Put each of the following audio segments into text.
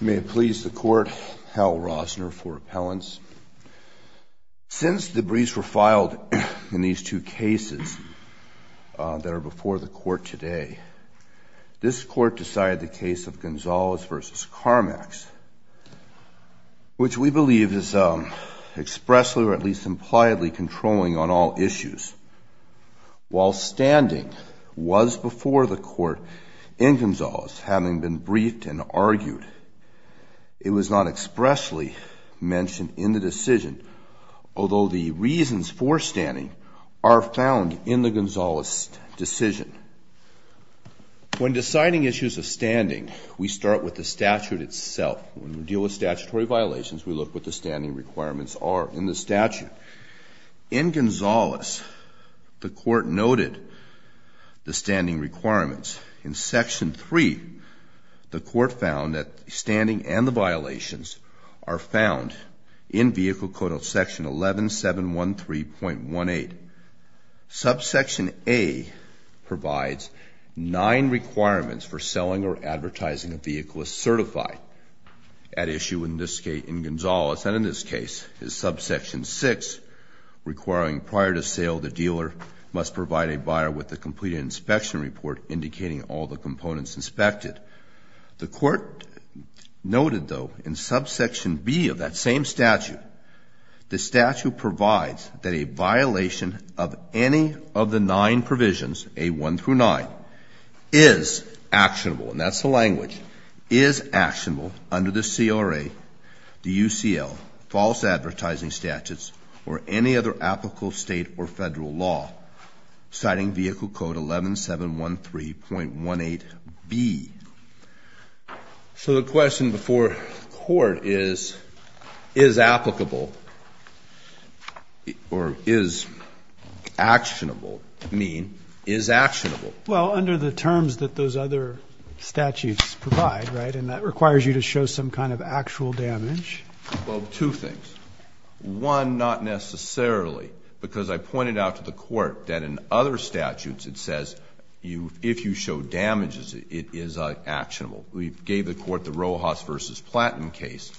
May it please the court, Hal Rosner for appellants. Since the briefs were filed in these two cases that are before the court today, this court decided the case of Gonzales v. Carmax, which we believe is expressly or at least impliedly controlling on all issues. While standing was before the court in Gonzales, having been briefed and argued, it was not expressly mentioned in the decision, although the reasons for standing are found in the Gonzales decision. When deciding issues of standing, we start with the statute itself. When we deal with statutory violations, we look what the standing requirements are in the statute. In Gonzales, the court noted the standing requirements. In section 3, the court found that standing and the violations are found in vehicle code of section 11713.18. Subsection A provides nine requirements for selling or advertising a vehicle as certified. At issue in Gonzales, and in this case, is subsection 6, requiring prior to sale, the dealer must provide a buyer with a completed inspection report indicating all the components inspected. The court noted, though, in subsection B of that same statute, the statute provides that a violation of any of the nine provisions, A1 through 9, is actionable, and that's the language, is actionable under the CRA, the UCL, false advertising statutes, or any other applicable state or federal law, citing vehicle code 11713.18B. So the question before the court is, is applicable, or is actionable mean is actionable? Well, under the terms that those other statutes provide, right? And that requires you to show some kind of actual damage. Well, two things. One, not necessarily, because I pointed out to the court that in other statutes it says if you show damages, it is actionable. We gave the court the Rojas v. Platten case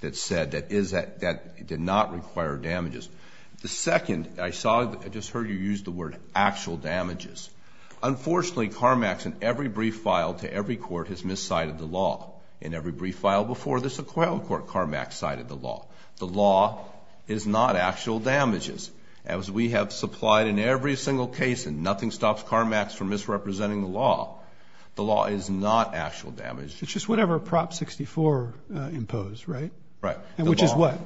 that said that it did not require damages. The second, I saw, I just heard you use the word actual damages. Unfortunately, Carmax in every brief file to every court has miscited the law. In every brief file before this acquittal court, Carmax cited the law. The law is not actual damages. As we have supplied in every single case, and nothing stops Carmax from misrepresenting the law, the law is not actual damages. It's just whatever Prop 64 imposed, right? Right. And which is what?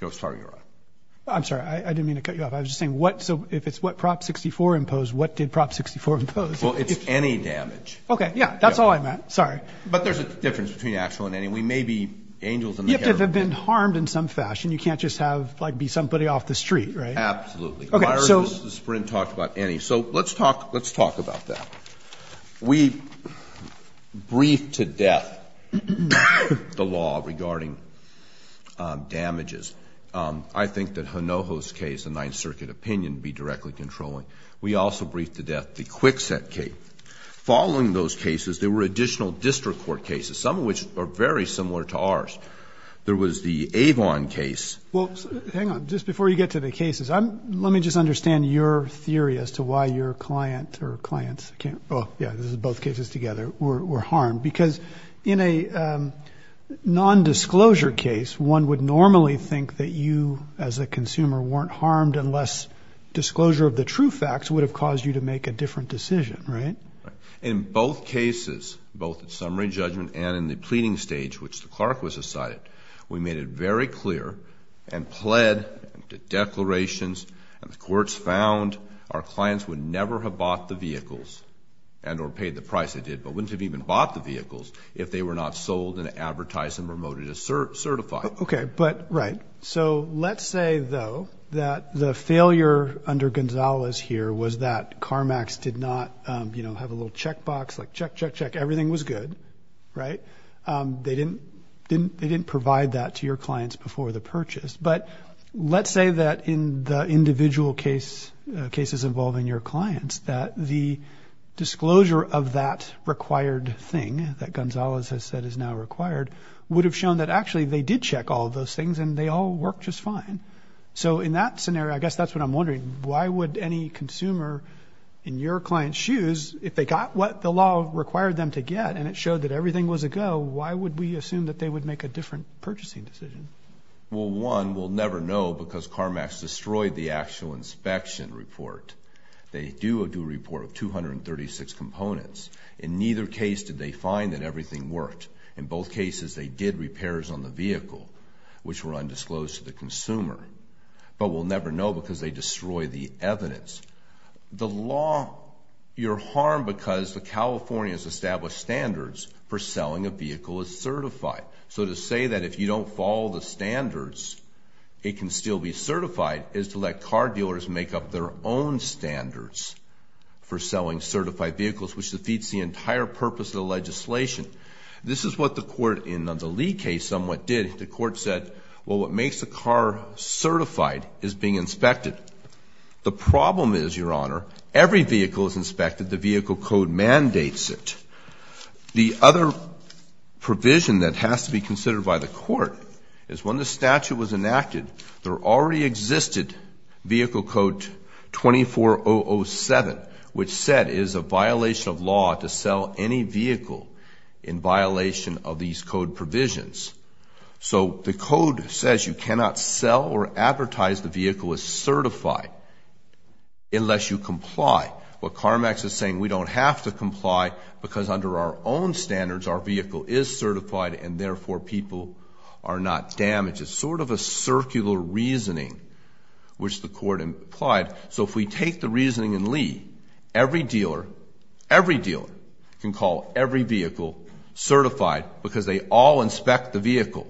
I'm sorry. I'm sorry. I didn't mean to cut you off. I was just saying what, so if it's what Prop 64 imposed, what did Prop 64 impose? Well, it's any damage. Okay. Yeah. That's all I meant. Sorry. But there's a difference between actual and any. We may be angels in the hair. You have to have been harmed in some fashion. You can't just have, like, be somebody off the street, right? Absolutely. Okay. Myers v. Sprint talked about any. So let's talk about that. We briefed to death the law regarding damages. I think that Honoho's case, the Ninth Circuit opinion, would be directly controlling. We also briefed to death the Kwikset case. Following those cases, there were additional district court cases, some of which are very similar to ours. There was the Avon case. Well, hang on. Just before you get to the cases, let me just understand your theory as to why your client or clients can't, oh, yeah, this is both cases together, were harmed. Because in a nondisclosure case, one would normally think that you, as a consumer, weren't harmed unless disclosure of the true facts would have caused you to make a different decision, right? Right. In both cases, both in summary judgment and in the pleading stage, which the clerk was decided, we made it very clear and pled the declarations, and the courts found our clients would never have bought the vehicles and or paid the price they did, but wouldn't have even bought the vehicles if they were not sold and advertised and promoted as certified. Okay, but right. So let's say, though, that the failure under Gonzalez here was that CarMax did not, you know, have a little checkbox like check, check, check, everything was good, right? They didn't provide that to your clients before the purchase. But let's say that in the individual cases involving your clients, that the disclosure of that required thing that Gonzalez has said is now required would have shown that, actually, they did check all of those things and they all worked just fine. So in that scenario, I guess that's what I'm wondering. Why would any consumer in your client's shoes, if they got what the law required them to get and it showed that everything was a go, why would we assume that they would make a different purchasing decision? Well, one, we'll never know because CarMax destroyed the actual inspection report. They do a due report of 236 components. In neither case did they find that everything worked. In both cases, they did repairs on the vehicle, which were undisclosed to the consumer. But we'll never know because they destroyed the evidence. The law, you're harmed because the California has established standards for selling a vehicle as certified. So to say that if you don't follow the standards, it can still be certified, is to let car dealers make up their own standards for selling certified vehicles, which defeats the entire purpose of the legislation. This is what the court in the Lee case somewhat did. The court said, well, what makes a car certified is being inspected. The problem is, Your Honor, every vehicle is inspected. The vehicle code mandates it. The other provision that has to be considered by the court is when the statute was enacted, there already existed vehicle code 24007, which said it is a violation of law to sell any vehicle in violation of these code provisions. So the code says you cannot sell or advertise the vehicle as certified unless you comply. What CARMAX is saying, we don't have to comply because under our own standards, our vehicle is certified and therefore people are not damaged. It's sort of a circular reasoning, which the court implied. So if we take the reasoning in Lee, every dealer, every dealer can call every vehicle certified because they all inspect the vehicle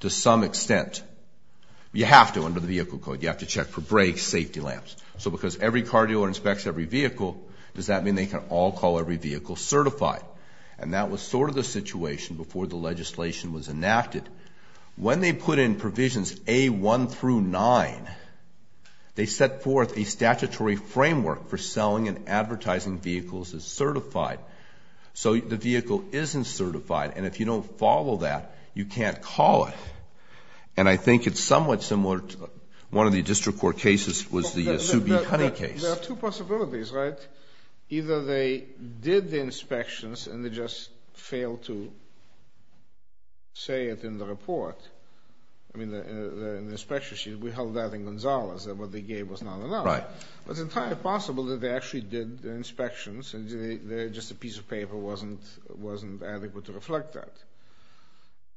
to some extent. You have to under the vehicle code. You have to check for brakes, safety lamps. So because every car dealer inspects every vehicle, does that mean they can all call every vehicle certified? And that was sort of the situation before the legislation was enacted. When they put in provisions A1 through 9, they set forth a statutory framework for selling and advertising vehicles as certified. So the vehicle isn't certified, and if you don't follow that, you can't call it. And I think it's somewhat similar to one of the district court cases was the Sue B. Honey case. There are two possibilities, right? Either they did the inspections and they just failed to say it in the report. I mean, in the inspection sheet, we held that in Gonzales that what they gave was not enough. Right. But it's entirely possible that they actually did the inspections and just a piece of paper wasn't adequate to reflect that.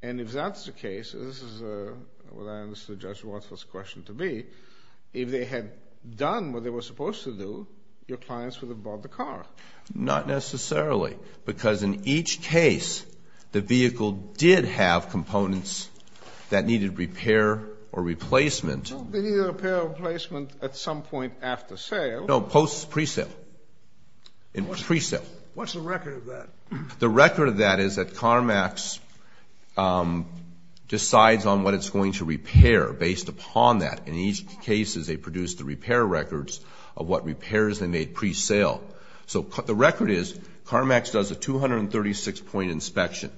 And if that's the case, this is what I understood Judge Waltz's question to be, if they had done what they were supposed to do, your clients would have bought the car. Not necessarily, because in each case, the vehicle did have components that needed repair or replacement. They needed repair or replacement at some point after sale. No, post pre-sale and pre-sale. What's the record of that? The record of that is that CarMax decides on what it's going to repair based upon that. In each case, they produce the repair records of what repairs they made pre-sale. So the record is CarMax does a 236-point inspection,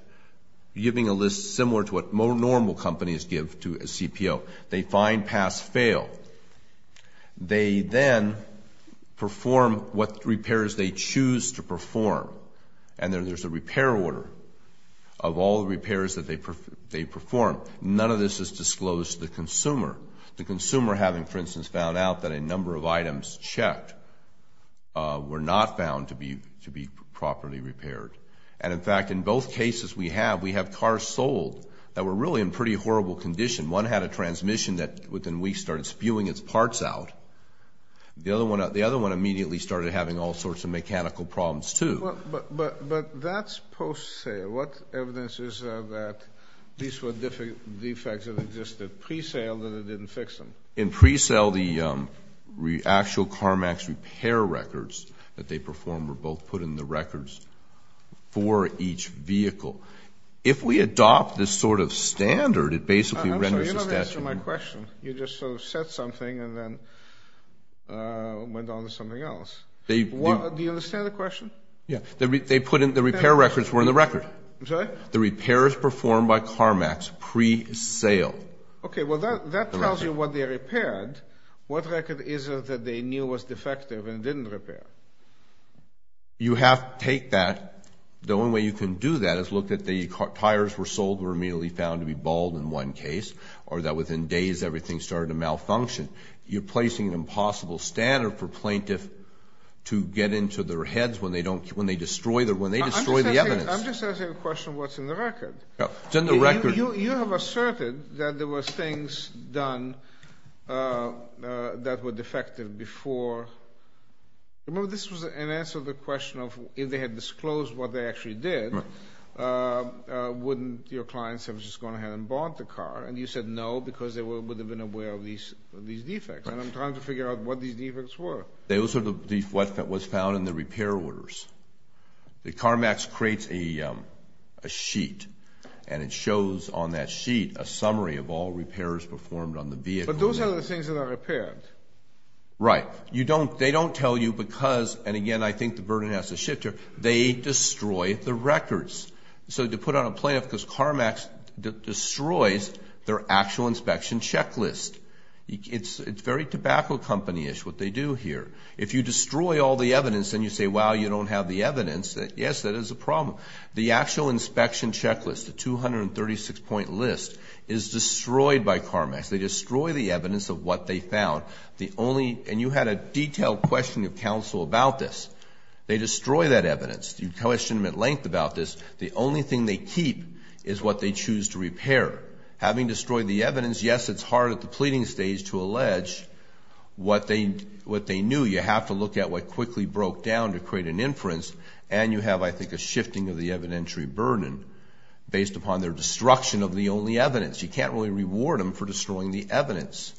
giving a list similar to what normal companies give to a CPO. They find pass-fail. And then there's a repair order of all the repairs that they perform. None of this is disclosed to the consumer. The consumer having, for instance, found out that a number of items checked were not found to be properly repaired. And, in fact, in both cases we have, we have cars sold that were really in pretty horrible condition. One had a transmission that within weeks started spewing its parts out. The other one immediately started having all sorts of mechanical problems, too. But that's post-sale. What evidence is there that these were defects that existed pre-sale that it didn't fix them? In pre-sale, the actual CarMax repair records that they performed were both put in the records for each vehicle. If we adopt this sort of standard, it basically renders the statute. I'm sorry, you don't answer my question. You just sort of said something and then went on to something else. Do you understand the question? Yeah. The repair records were in the record. I'm sorry? The repairs performed by CarMax pre-sale. Okay. Well, that tells you what they repaired. What record is it that they knew was defective and didn't repair? You have to take that. The only way you can do that is look at the tires were sold were immediately found to be bald in one case or that within days everything started to malfunction. You're placing an impossible standard for plaintiff to get into their heads when they destroy the evidence. I'm just asking a question of what's in the record. It's in the record. You have asserted that there were things done that were defective before. Remember, this was an answer to the question of if they had disclosed what they actually did, wouldn't your clients have just gone ahead and bought the car? And you said no because they would have been aware of these defects. And I'm trying to figure out what these defects were. Those are what was found in the repair orders. CarMax creates a sheet, and it shows on that sheet a summary of all repairs performed on the vehicle. But those are the things that are repaired. Right. They don't tell you because, and again, I think the burden has to shift here, they destroy the records. So to put on a plaintiff, because CarMax destroys their actual inspection checklist. It's very tobacco company-ish what they do here. If you destroy all the evidence and you say, wow, you don't have the evidence, yes, that is a problem. The actual inspection checklist, the 236-point list, is destroyed by CarMax. They destroy the evidence of what they found. And you had a detailed question of counsel about this. They destroy that evidence. You questioned them at length about this. The only thing they keep is what they choose to repair. Having destroyed the evidence, yes, it's hard at the pleading stage to allege what they knew. You have to look at what quickly broke down to create an inference. And you have, I think, a shifting of the evidentiary burden based upon their destruction of the only evidence. You can't really reward them for destroying the evidence.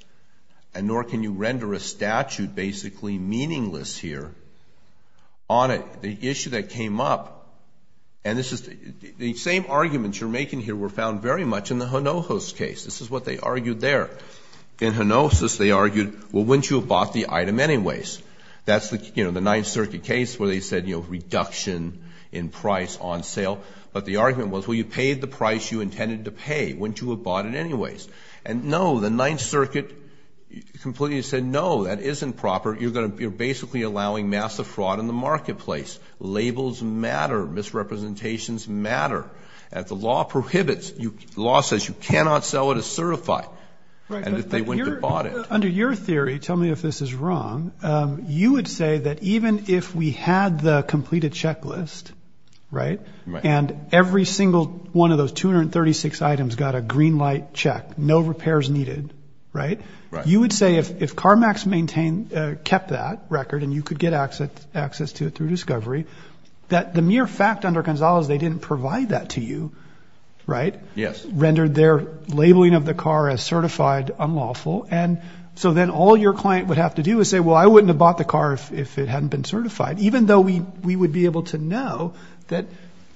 And nor can you render a statute basically meaningless here on it. The issue that came up, and this is the same arguments you're making here were found very much in the Honohos case. This is what they argued there. In Honohos, they argued, well, wouldn't you have bought the item anyways? That's the Ninth Circuit case where they said, you know, reduction in price on sale. But the argument was, well, you paid the price you intended to pay. Wouldn't you have bought it anyways? And, no, the Ninth Circuit completely said, no, that isn't proper. You're basically allowing massive fraud in the marketplace. Labels matter. Misrepresentations matter. The law prohibits. The law says you cannot sell it as certified. And they wouldn't have bought it. Under your theory, tell me if this is wrong, you would say that even if we had the completed checklist, right, and every single one of those 236 items got a green light check, no repairs needed, right, you would say if CarMax maintained, kept that record and you could get access to it through discovery, that the mere fact under Gonzales they didn't provide that to you, right, rendered their labeling of the car as certified unlawful. And so then all your client would have to do is say, well, I wouldn't have bought the car if it hadn't been certified, even though we would be able to know that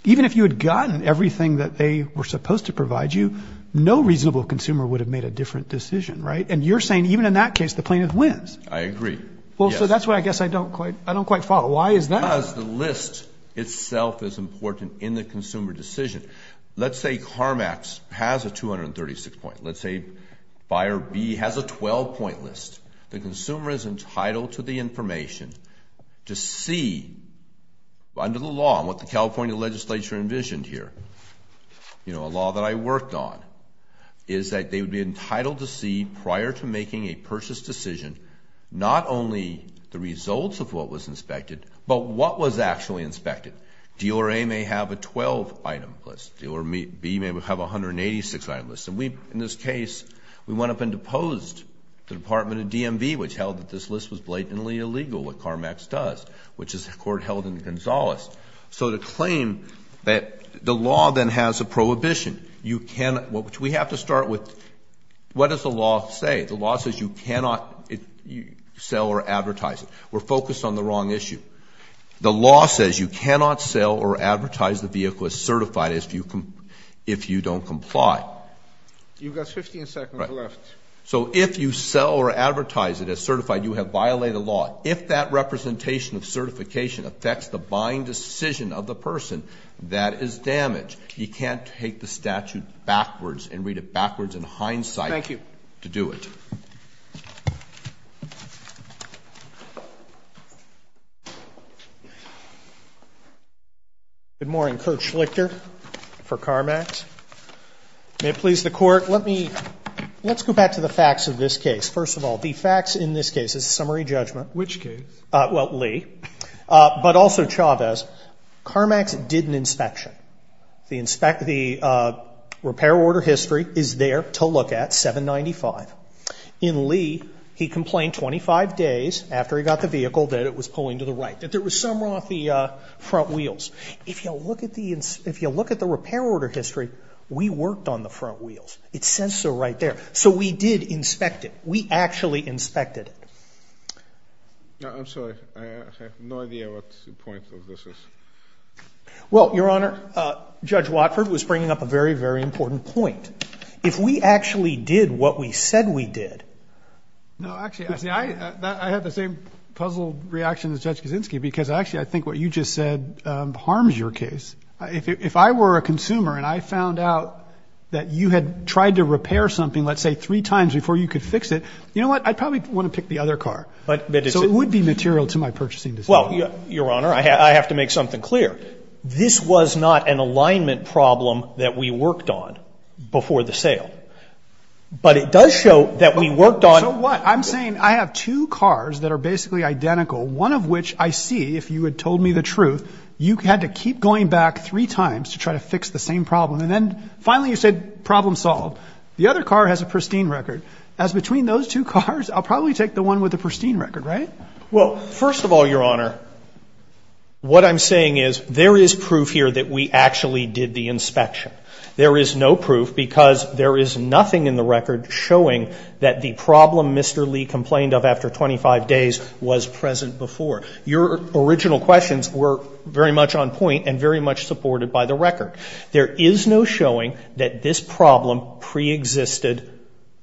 even if you had gotten everything that they were supposed to provide you, no reasonable consumer would have made a different decision, right? And you're saying even in that case the plaintiff wins. I agree. Well, so that's what I guess I don't quite follow. Why is that? Because the list itself is important in the consumer decision. Let's say CarMax has a 236 point. Let's say Buyer B has a 12-point list. The consumer is entitled to the information to see under the law, and what the California legislature envisioned here, you know, a law that I worked on, is that they would be entitled to see prior to making a purchase decision not only the results of what was inspected, but what was actually inspected. Dealer A may have a 12-item list. Dealer B may have a 186-item list. And we, in this case, we went up and deposed the Department of DMV, which held that this list was blatantly illegal, what CarMax does, which is a court held in Gonzales. So to claim that the law then has a prohibition, you cannot, which we have to start with, what does the law say? The law says you cannot sell or advertise it. We're focused on the wrong issue. The law says you cannot sell or advertise the vehicle as certified if you don't comply. You've got 15 seconds left. So if you sell or advertise it as certified, you have violated the law. If that representation of certification affects the buying decision of the person, that is damage. You can't take the statute backwards and read it backwards in hindsight to do it. Thank you. Good morning. Kurt Schlichter for CarMax. May it please the Court, let me, let's go back to the facts of this case. First of all, the facts in this case is summary judgment. Which case? Well, Lee. But also, Chavez, CarMax did an inspection. The repair order history is there to look at, 795. In Lee, he complained 25 days after he got the vehicle that it was pulling to the right. That there was somewhere off the front wheels. If you look at the repair order history, we worked on the front wheels. It says so right there. So we did inspect it. We actually inspected it. I'm sorry. I have no idea what the point of this is. Well, Your Honor, Judge Watford was bringing up a very, very important point. If we actually did what we said we did. No, actually, I have the same puzzled reaction as Judge Kaczynski. Because, actually, I think what you just said harms your case. If I were a consumer and I found out that you had tried to repair something, let's say, three times before you could fix it, you know what, I'd probably want to pick the other car. So it would be material to my purchasing decision. Well, Your Honor, I have to make something clear. This was not an alignment problem that we worked on before the sale. But it does show that we worked on. So what? I'm saying I have two cars that are basically identical, one of which I see, if you had told me the truth, you had to keep going back three times to try to fix the same problem. And then finally you said problem solved. The other car has a pristine record. As between those two cars, I'll probably take the one with the pristine record, right? Well, first of all, Your Honor, what I'm saying is there is proof here that we actually did the inspection. There is no proof because there is nothing in the record showing that the problem Mr. Lee complained of after 25 days was present before. Your original questions were very much on point and very much supported by the record. There is no showing that this problem preexisted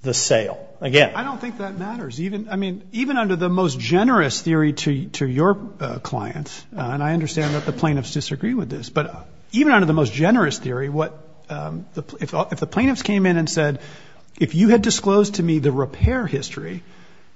the sale. Again. I don't think that matters. I mean, even under the most generous theory to your clients, and I understand that the plaintiffs disagree with this, but even under the most generous theory, if the plaintiffs came in and said, if you had disclosed to me the repair history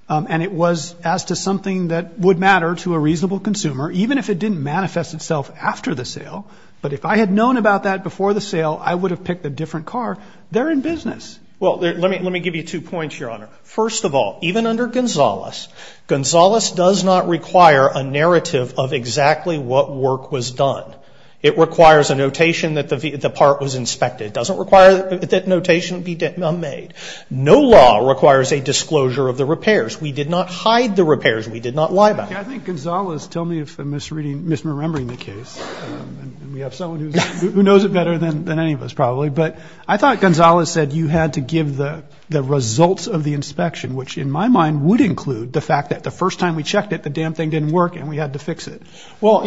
and it was as to something that would matter to a reasonable consumer, even if it didn't manifest itself after the sale, but if I had known about that before the sale, I would have picked a different car, they're in business. First of all, even under Gonzales, Gonzales does not require a narrative of exactly what work was done. It requires a notation that the part was inspected. It doesn't require that notation be made. No law requires a disclosure of the repairs. We did not hide the repairs. We did not lie about them. I think Gonzales, tell me if I'm misreading, misremembering the case, and we have someone who knows it better than any of us probably, but I thought Gonzales said you had to give the results of the inspection, which in my mind would include the fact that the first time we checked it, the damn thing didn't work and we had to fix it. Well,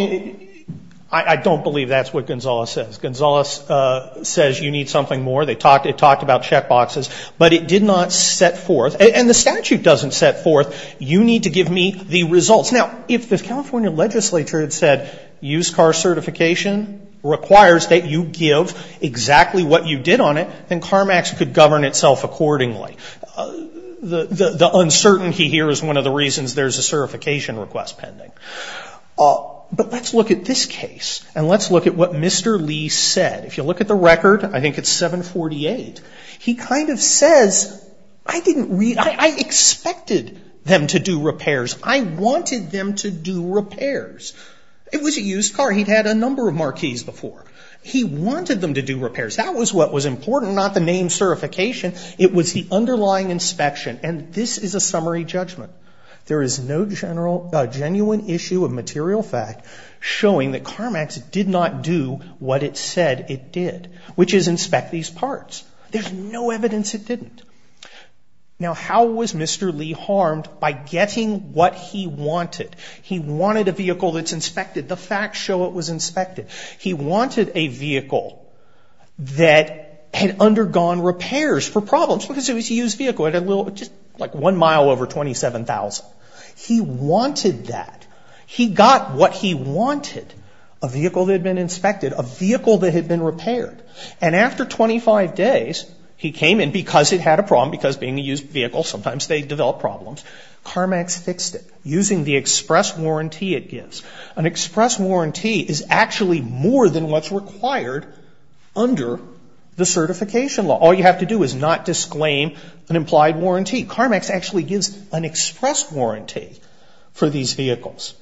I don't believe that's what Gonzales says. Gonzales says you need something more. They talked about check boxes, but it did not set forth, and the statute doesn't set forth, you need to give me the results. Now, if the California legislature had said used car certification requires that you give exactly what you did on it, then CarMax could govern itself accordingly. The uncertainty here is one of the reasons there's a certification request pending. But let's look at this case, and let's look at what Mr. Lee said. If you look at the record, I think it's 748, he kind of says, I didn't read, I expected them to do repairs. I wanted them to do repairs. It was a used car. He'd had a number of marquees before. He wanted them to do repairs. That was what was important, not the name certification. It was the underlying inspection, and this is a summary judgment. There is no general genuine issue of material fact showing that CarMax did not do what it said it did, which is inspect these parts. There's no evidence it didn't. Now, how was Mr. Lee harmed? By getting what he wanted. He wanted a vehicle that's inspected. The facts show it was inspected. He wanted a vehicle that had undergone repairs for problems, because it was a used vehicle. It had just like one mile over 27,000. He wanted that. He got what he wanted, a vehicle that had been inspected, a vehicle that had been repaired. And after 25 days, he came in, because it had a problem, because being a used vehicle, sometimes they develop problems. CarMax fixed it using the express warranty it gives. An express warranty is actually more than what's required under the certification law. All you have to do is not disclaim an implied warranty. CarMax actually gives an express warranty for these vehicles.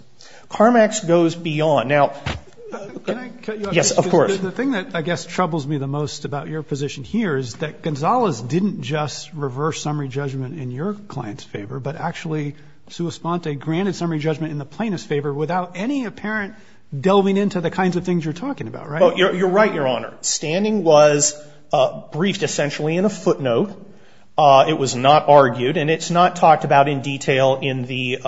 CarMax goes beyond. Can I cut you off? Yes, of course. The thing that I guess troubles me the most about your position here is that Gonzalez didn't just reverse summary judgment in your client's favor, but actually, sua sponte, granted summary judgment in the plaintiff's favor without any apparent delving into the kinds of things you're talking about, right? You're right, Your Honor. Standing was briefed essentially in a footnote. It was not argued, and it's not talked about in detail in the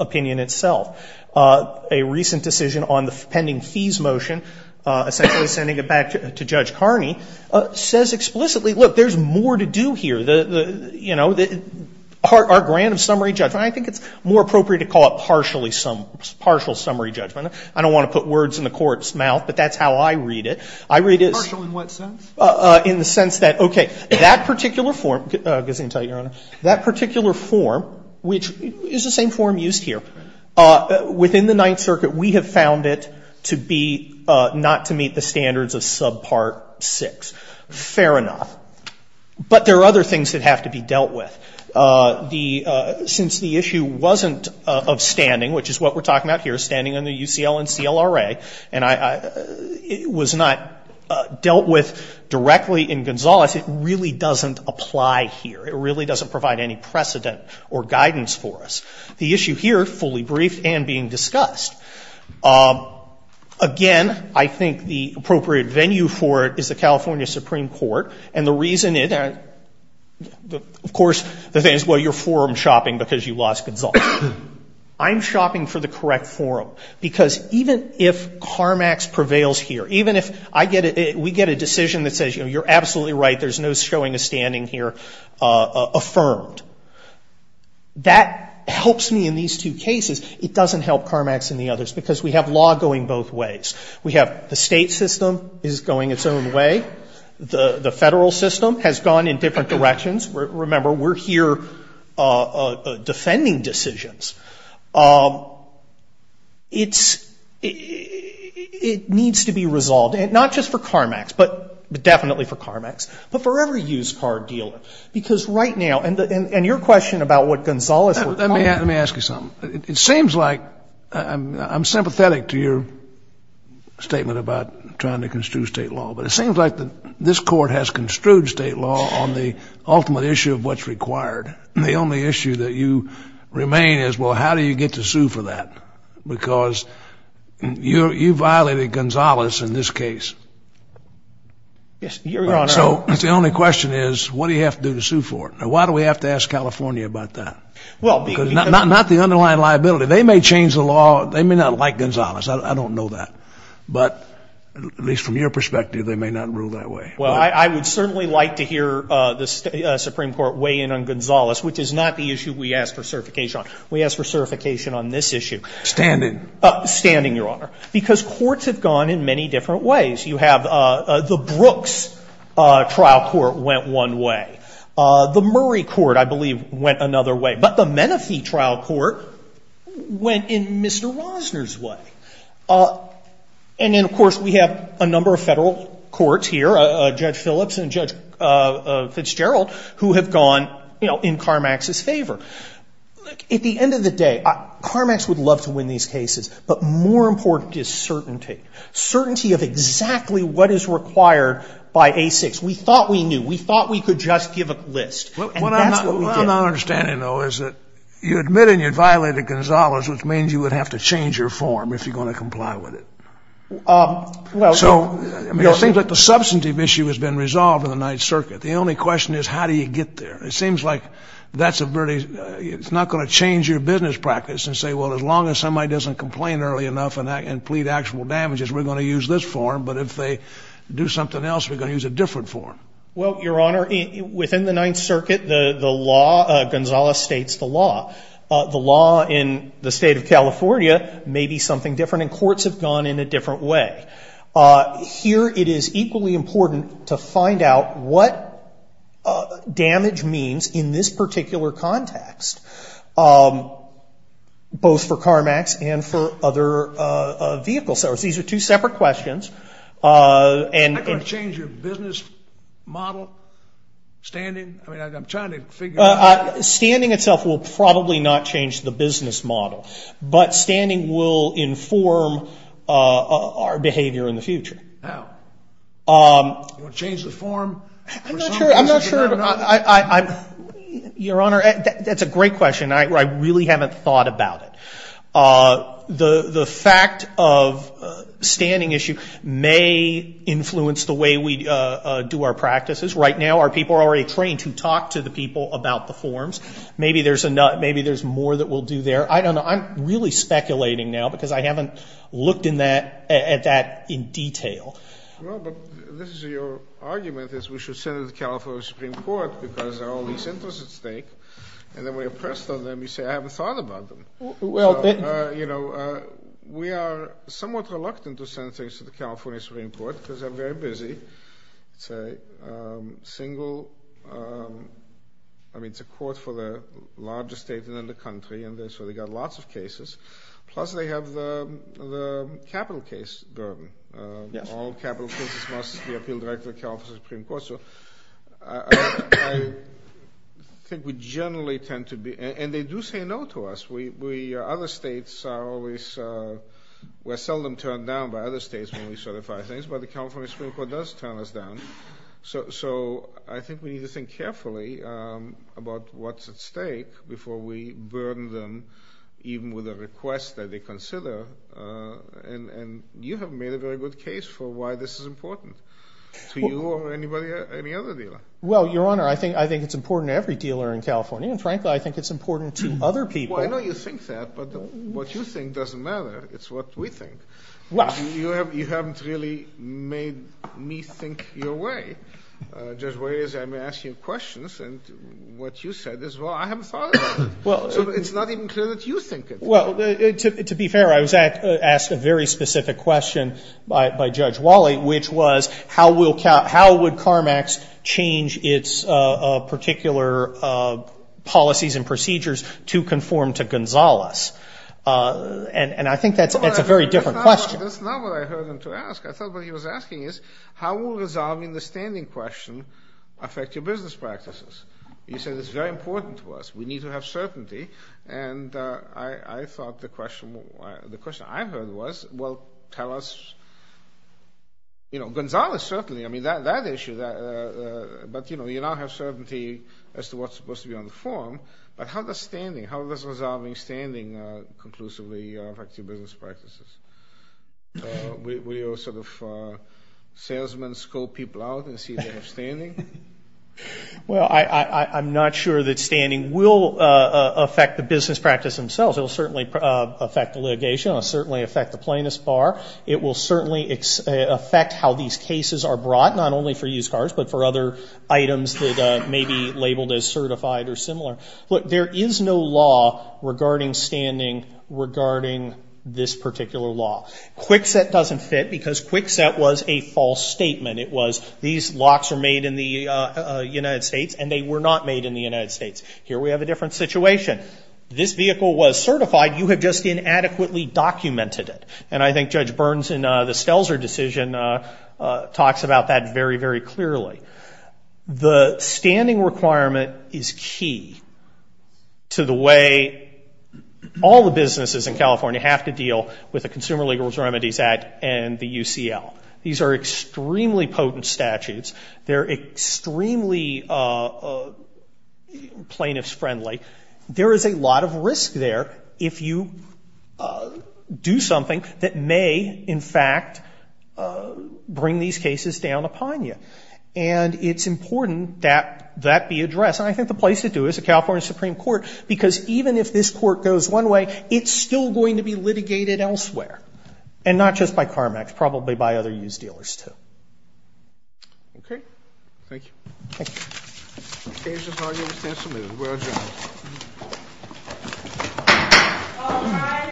opinion itself. A recent decision on the pending fees motion, essentially sending it back to Judge Carney, says explicitly, look, there's more to do here. You know, our grant of summary judgment, I think it's more appropriate to call it partial summary judgment. I don't want to put words in the Court's mouth, but that's how I read it. I read it as — Partial in what sense? In the sense that, okay, that particular form, Gesundheit, Your Honor, that particular form, which is the same form used here, within the Ninth Circuit, we have found it to be not to meet the standards of subpart 6. Fair enough. But there are other things that have to be dealt with. The — since the issue wasn't of standing, which is what we're talking about here, standing under UCL and CLRA, and I — it was not dealt with directly in Gonzalez, it really doesn't apply here. It really doesn't provide any precedent or guidance for us. The issue here, fully briefed and being discussed, again, I think the appropriate venue for it is the California Supreme Court. And the reason it — of course, the thing is, well, you're forum shopping because you lost Gonzalez. I'm shopping for the correct forum. Because even if CARMAX prevails here, even if I get a — we get a decision that says, you know, you're absolutely right, there's no showing of standing here affirmed. That helps me in these two cases. It doesn't help CARMAX in the others because we have law going both ways. We have the state system is going its own way. The federal system has gone in different directions. Remember, we're here defending decisions. It's — it needs to be resolved, and not just for CARMAX, but definitely for CARMAX, but for every used car dealer. Because right now — and your question about what Gonzalez — Let me ask you something. It seems like — I'm sympathetic to your statement about trying to construe state law, but it seems like this court has construed state law on the ultimate issue of what's required. The only issue that you remain is, well, how do you get to sue for that? Because you violated Gonzalez in this case. Yes, Your Honor. So the only question is, what do you have to do to sue for it? Now, why do we have to ask California about that? Not the underlying liability. They may change the law. They may not like Gonzalez. I don't know that. But at least from your perspective, they may not rule that way. Well, I would certainly like to hear the Supreme Court weigh in on Gonzalez, which is not the issue we ask for certification on. We ask for certification on this issue. Standing. Standing, Your Honor. Because courts have gone in many different ways. You have — the Brooks trial court went one way. The Murray court, I believe, went another way. But the Menifee trial court went in Mr. Rosner's way. And then, of course, we have a number of federal courts here, Judge Phillips and Judge Fitzgerald, who have gone, you know, in Carmax's favor. Look, at the end of the day, Carmax would love to win these cases. But more important is certainty, certainty of exactly what is required by A6. We thought we knew. We thought we could just give a list. And that's what we did. What I'm not understanding, though, is that you admit and you violated Gonzalez, which means you would have to change your form if you're going to comply with it. So it seems like the substantive issue has been resolved in the Ninth Circuit. The only question is, how do you get there? It seems like that's a very — it's not going to change your business practice and say, well, as long as somebody doesn't complain early enough and plead actual damages, we're going to use this form. But if they do something else, we're going to use a different form. Well, Your Honor, within the Ninth Circuit, the law — Gonzalez states the law. The law in the state of California may be something different, and courts have gone in a different way. Here it is equally important to find out what damage means in this particular context, both for Carmax and for other vehicle sellers. These are two separate questions. Is that going to change your business model, standing? I mean, I'm trying to figure out — Standing itself will probably not change the business model. But standing will inform our behavior in the future. How? Will it change the form? I'm not sure. I'm not sure. Your Honor, that's a great question. I really haven't thought about it. The fact of standing issue may influence the way we do our practices. Right now, our people are already trained to talk to the people about the forms. Maybe there's more that we'll do there. I don't know. I'm really speculating now because I haven't looked at that in detail. Well, but this is your argument, is we should send it to the California Supreme Court because there are all these interests at stake. And then when you're pressed on them, you say, I haven't thought about them. Well, you know, we are somewhat reluctant to send things to the California Supreme Court because they're very busy. It's a court for the largest state in the country, and so they've got lots of cases. Plus they have the capital case burden. All capital cases must be appealed directly to the California Supreme Court. I think we generally tend to be, and they do say no to us. Other states are always, we're seldom turned down by other states when we certify things. But the California Supreme Court does turn us down. So I think we need to think carefully about what's at stake before we burden them, even with a request that they consider. And you have made a very good case for why this is important. To you or anybody, any other dealer? Well, Your Honor, I think it's important to every dealer in California. And frankly, I think it's important to other people. Well, I know you think that. But what you think doesn't matter. It's what we think. Well. You haven't really made me think your way. Just the way I'm asking you questions and what you said is, well, I haven't thought about it. So it's not even clear that you think it. Well, to be fair, I was asked a very specific question by Judge Wally, which was, how would CARMAX change its particular policies and procedures to conform to Gonzales? And I think that's a very different question. That's not what I heard him to ask. I thought what he was asking is, how will resolving the standing question affect your business practices? You said it's very important to us. We need to have certainty. And I thought the question I heard was, well, tell us. You know, Gonzales, certainly. I mean, that issue. But, you know, you now have certainty as to what's supposed to be on the form. But how does standing, how does resolving standing conclusively affect your business practices? Will your sort of salesmen scope people out and see if they have standing? Well, I'm not sure that standing will affect the business practice themselves. It will certainly affect the litigation. It will certainly affect the plaintiff's bar. It will certainly affect how these cases are brought, not only for used cars, but for other items that may be labeled as certified or similar. Look, there is no law regarding standing regarding this particular law. Kwikset doesn't fit because Kwikset was a false statement. It was these locks are made in the United States, and they were not made in the United States. Here we have a different situation. This vehicle was certified. You have just inadequately documented it. And I think Judge Burns in the Stelzer decision talks about that very, very clearly. The standing requirement is key to the way all the businesses in California have to deal with the Consumer Legal Reserve and the UCL. These are extremely potent statutes. They're extremely plaintiff's friendly. There is a lot of risk there if you do something that may, in fact, bring these cases down upon you. And it's important that that be addressed. And I think the place to do it is the California Supreme Court, because even if this court goes one way, it's still going to be litigated elsewhere, and not just by Carmex, probably by other used dealers too. Okay. Thank you. Thank you.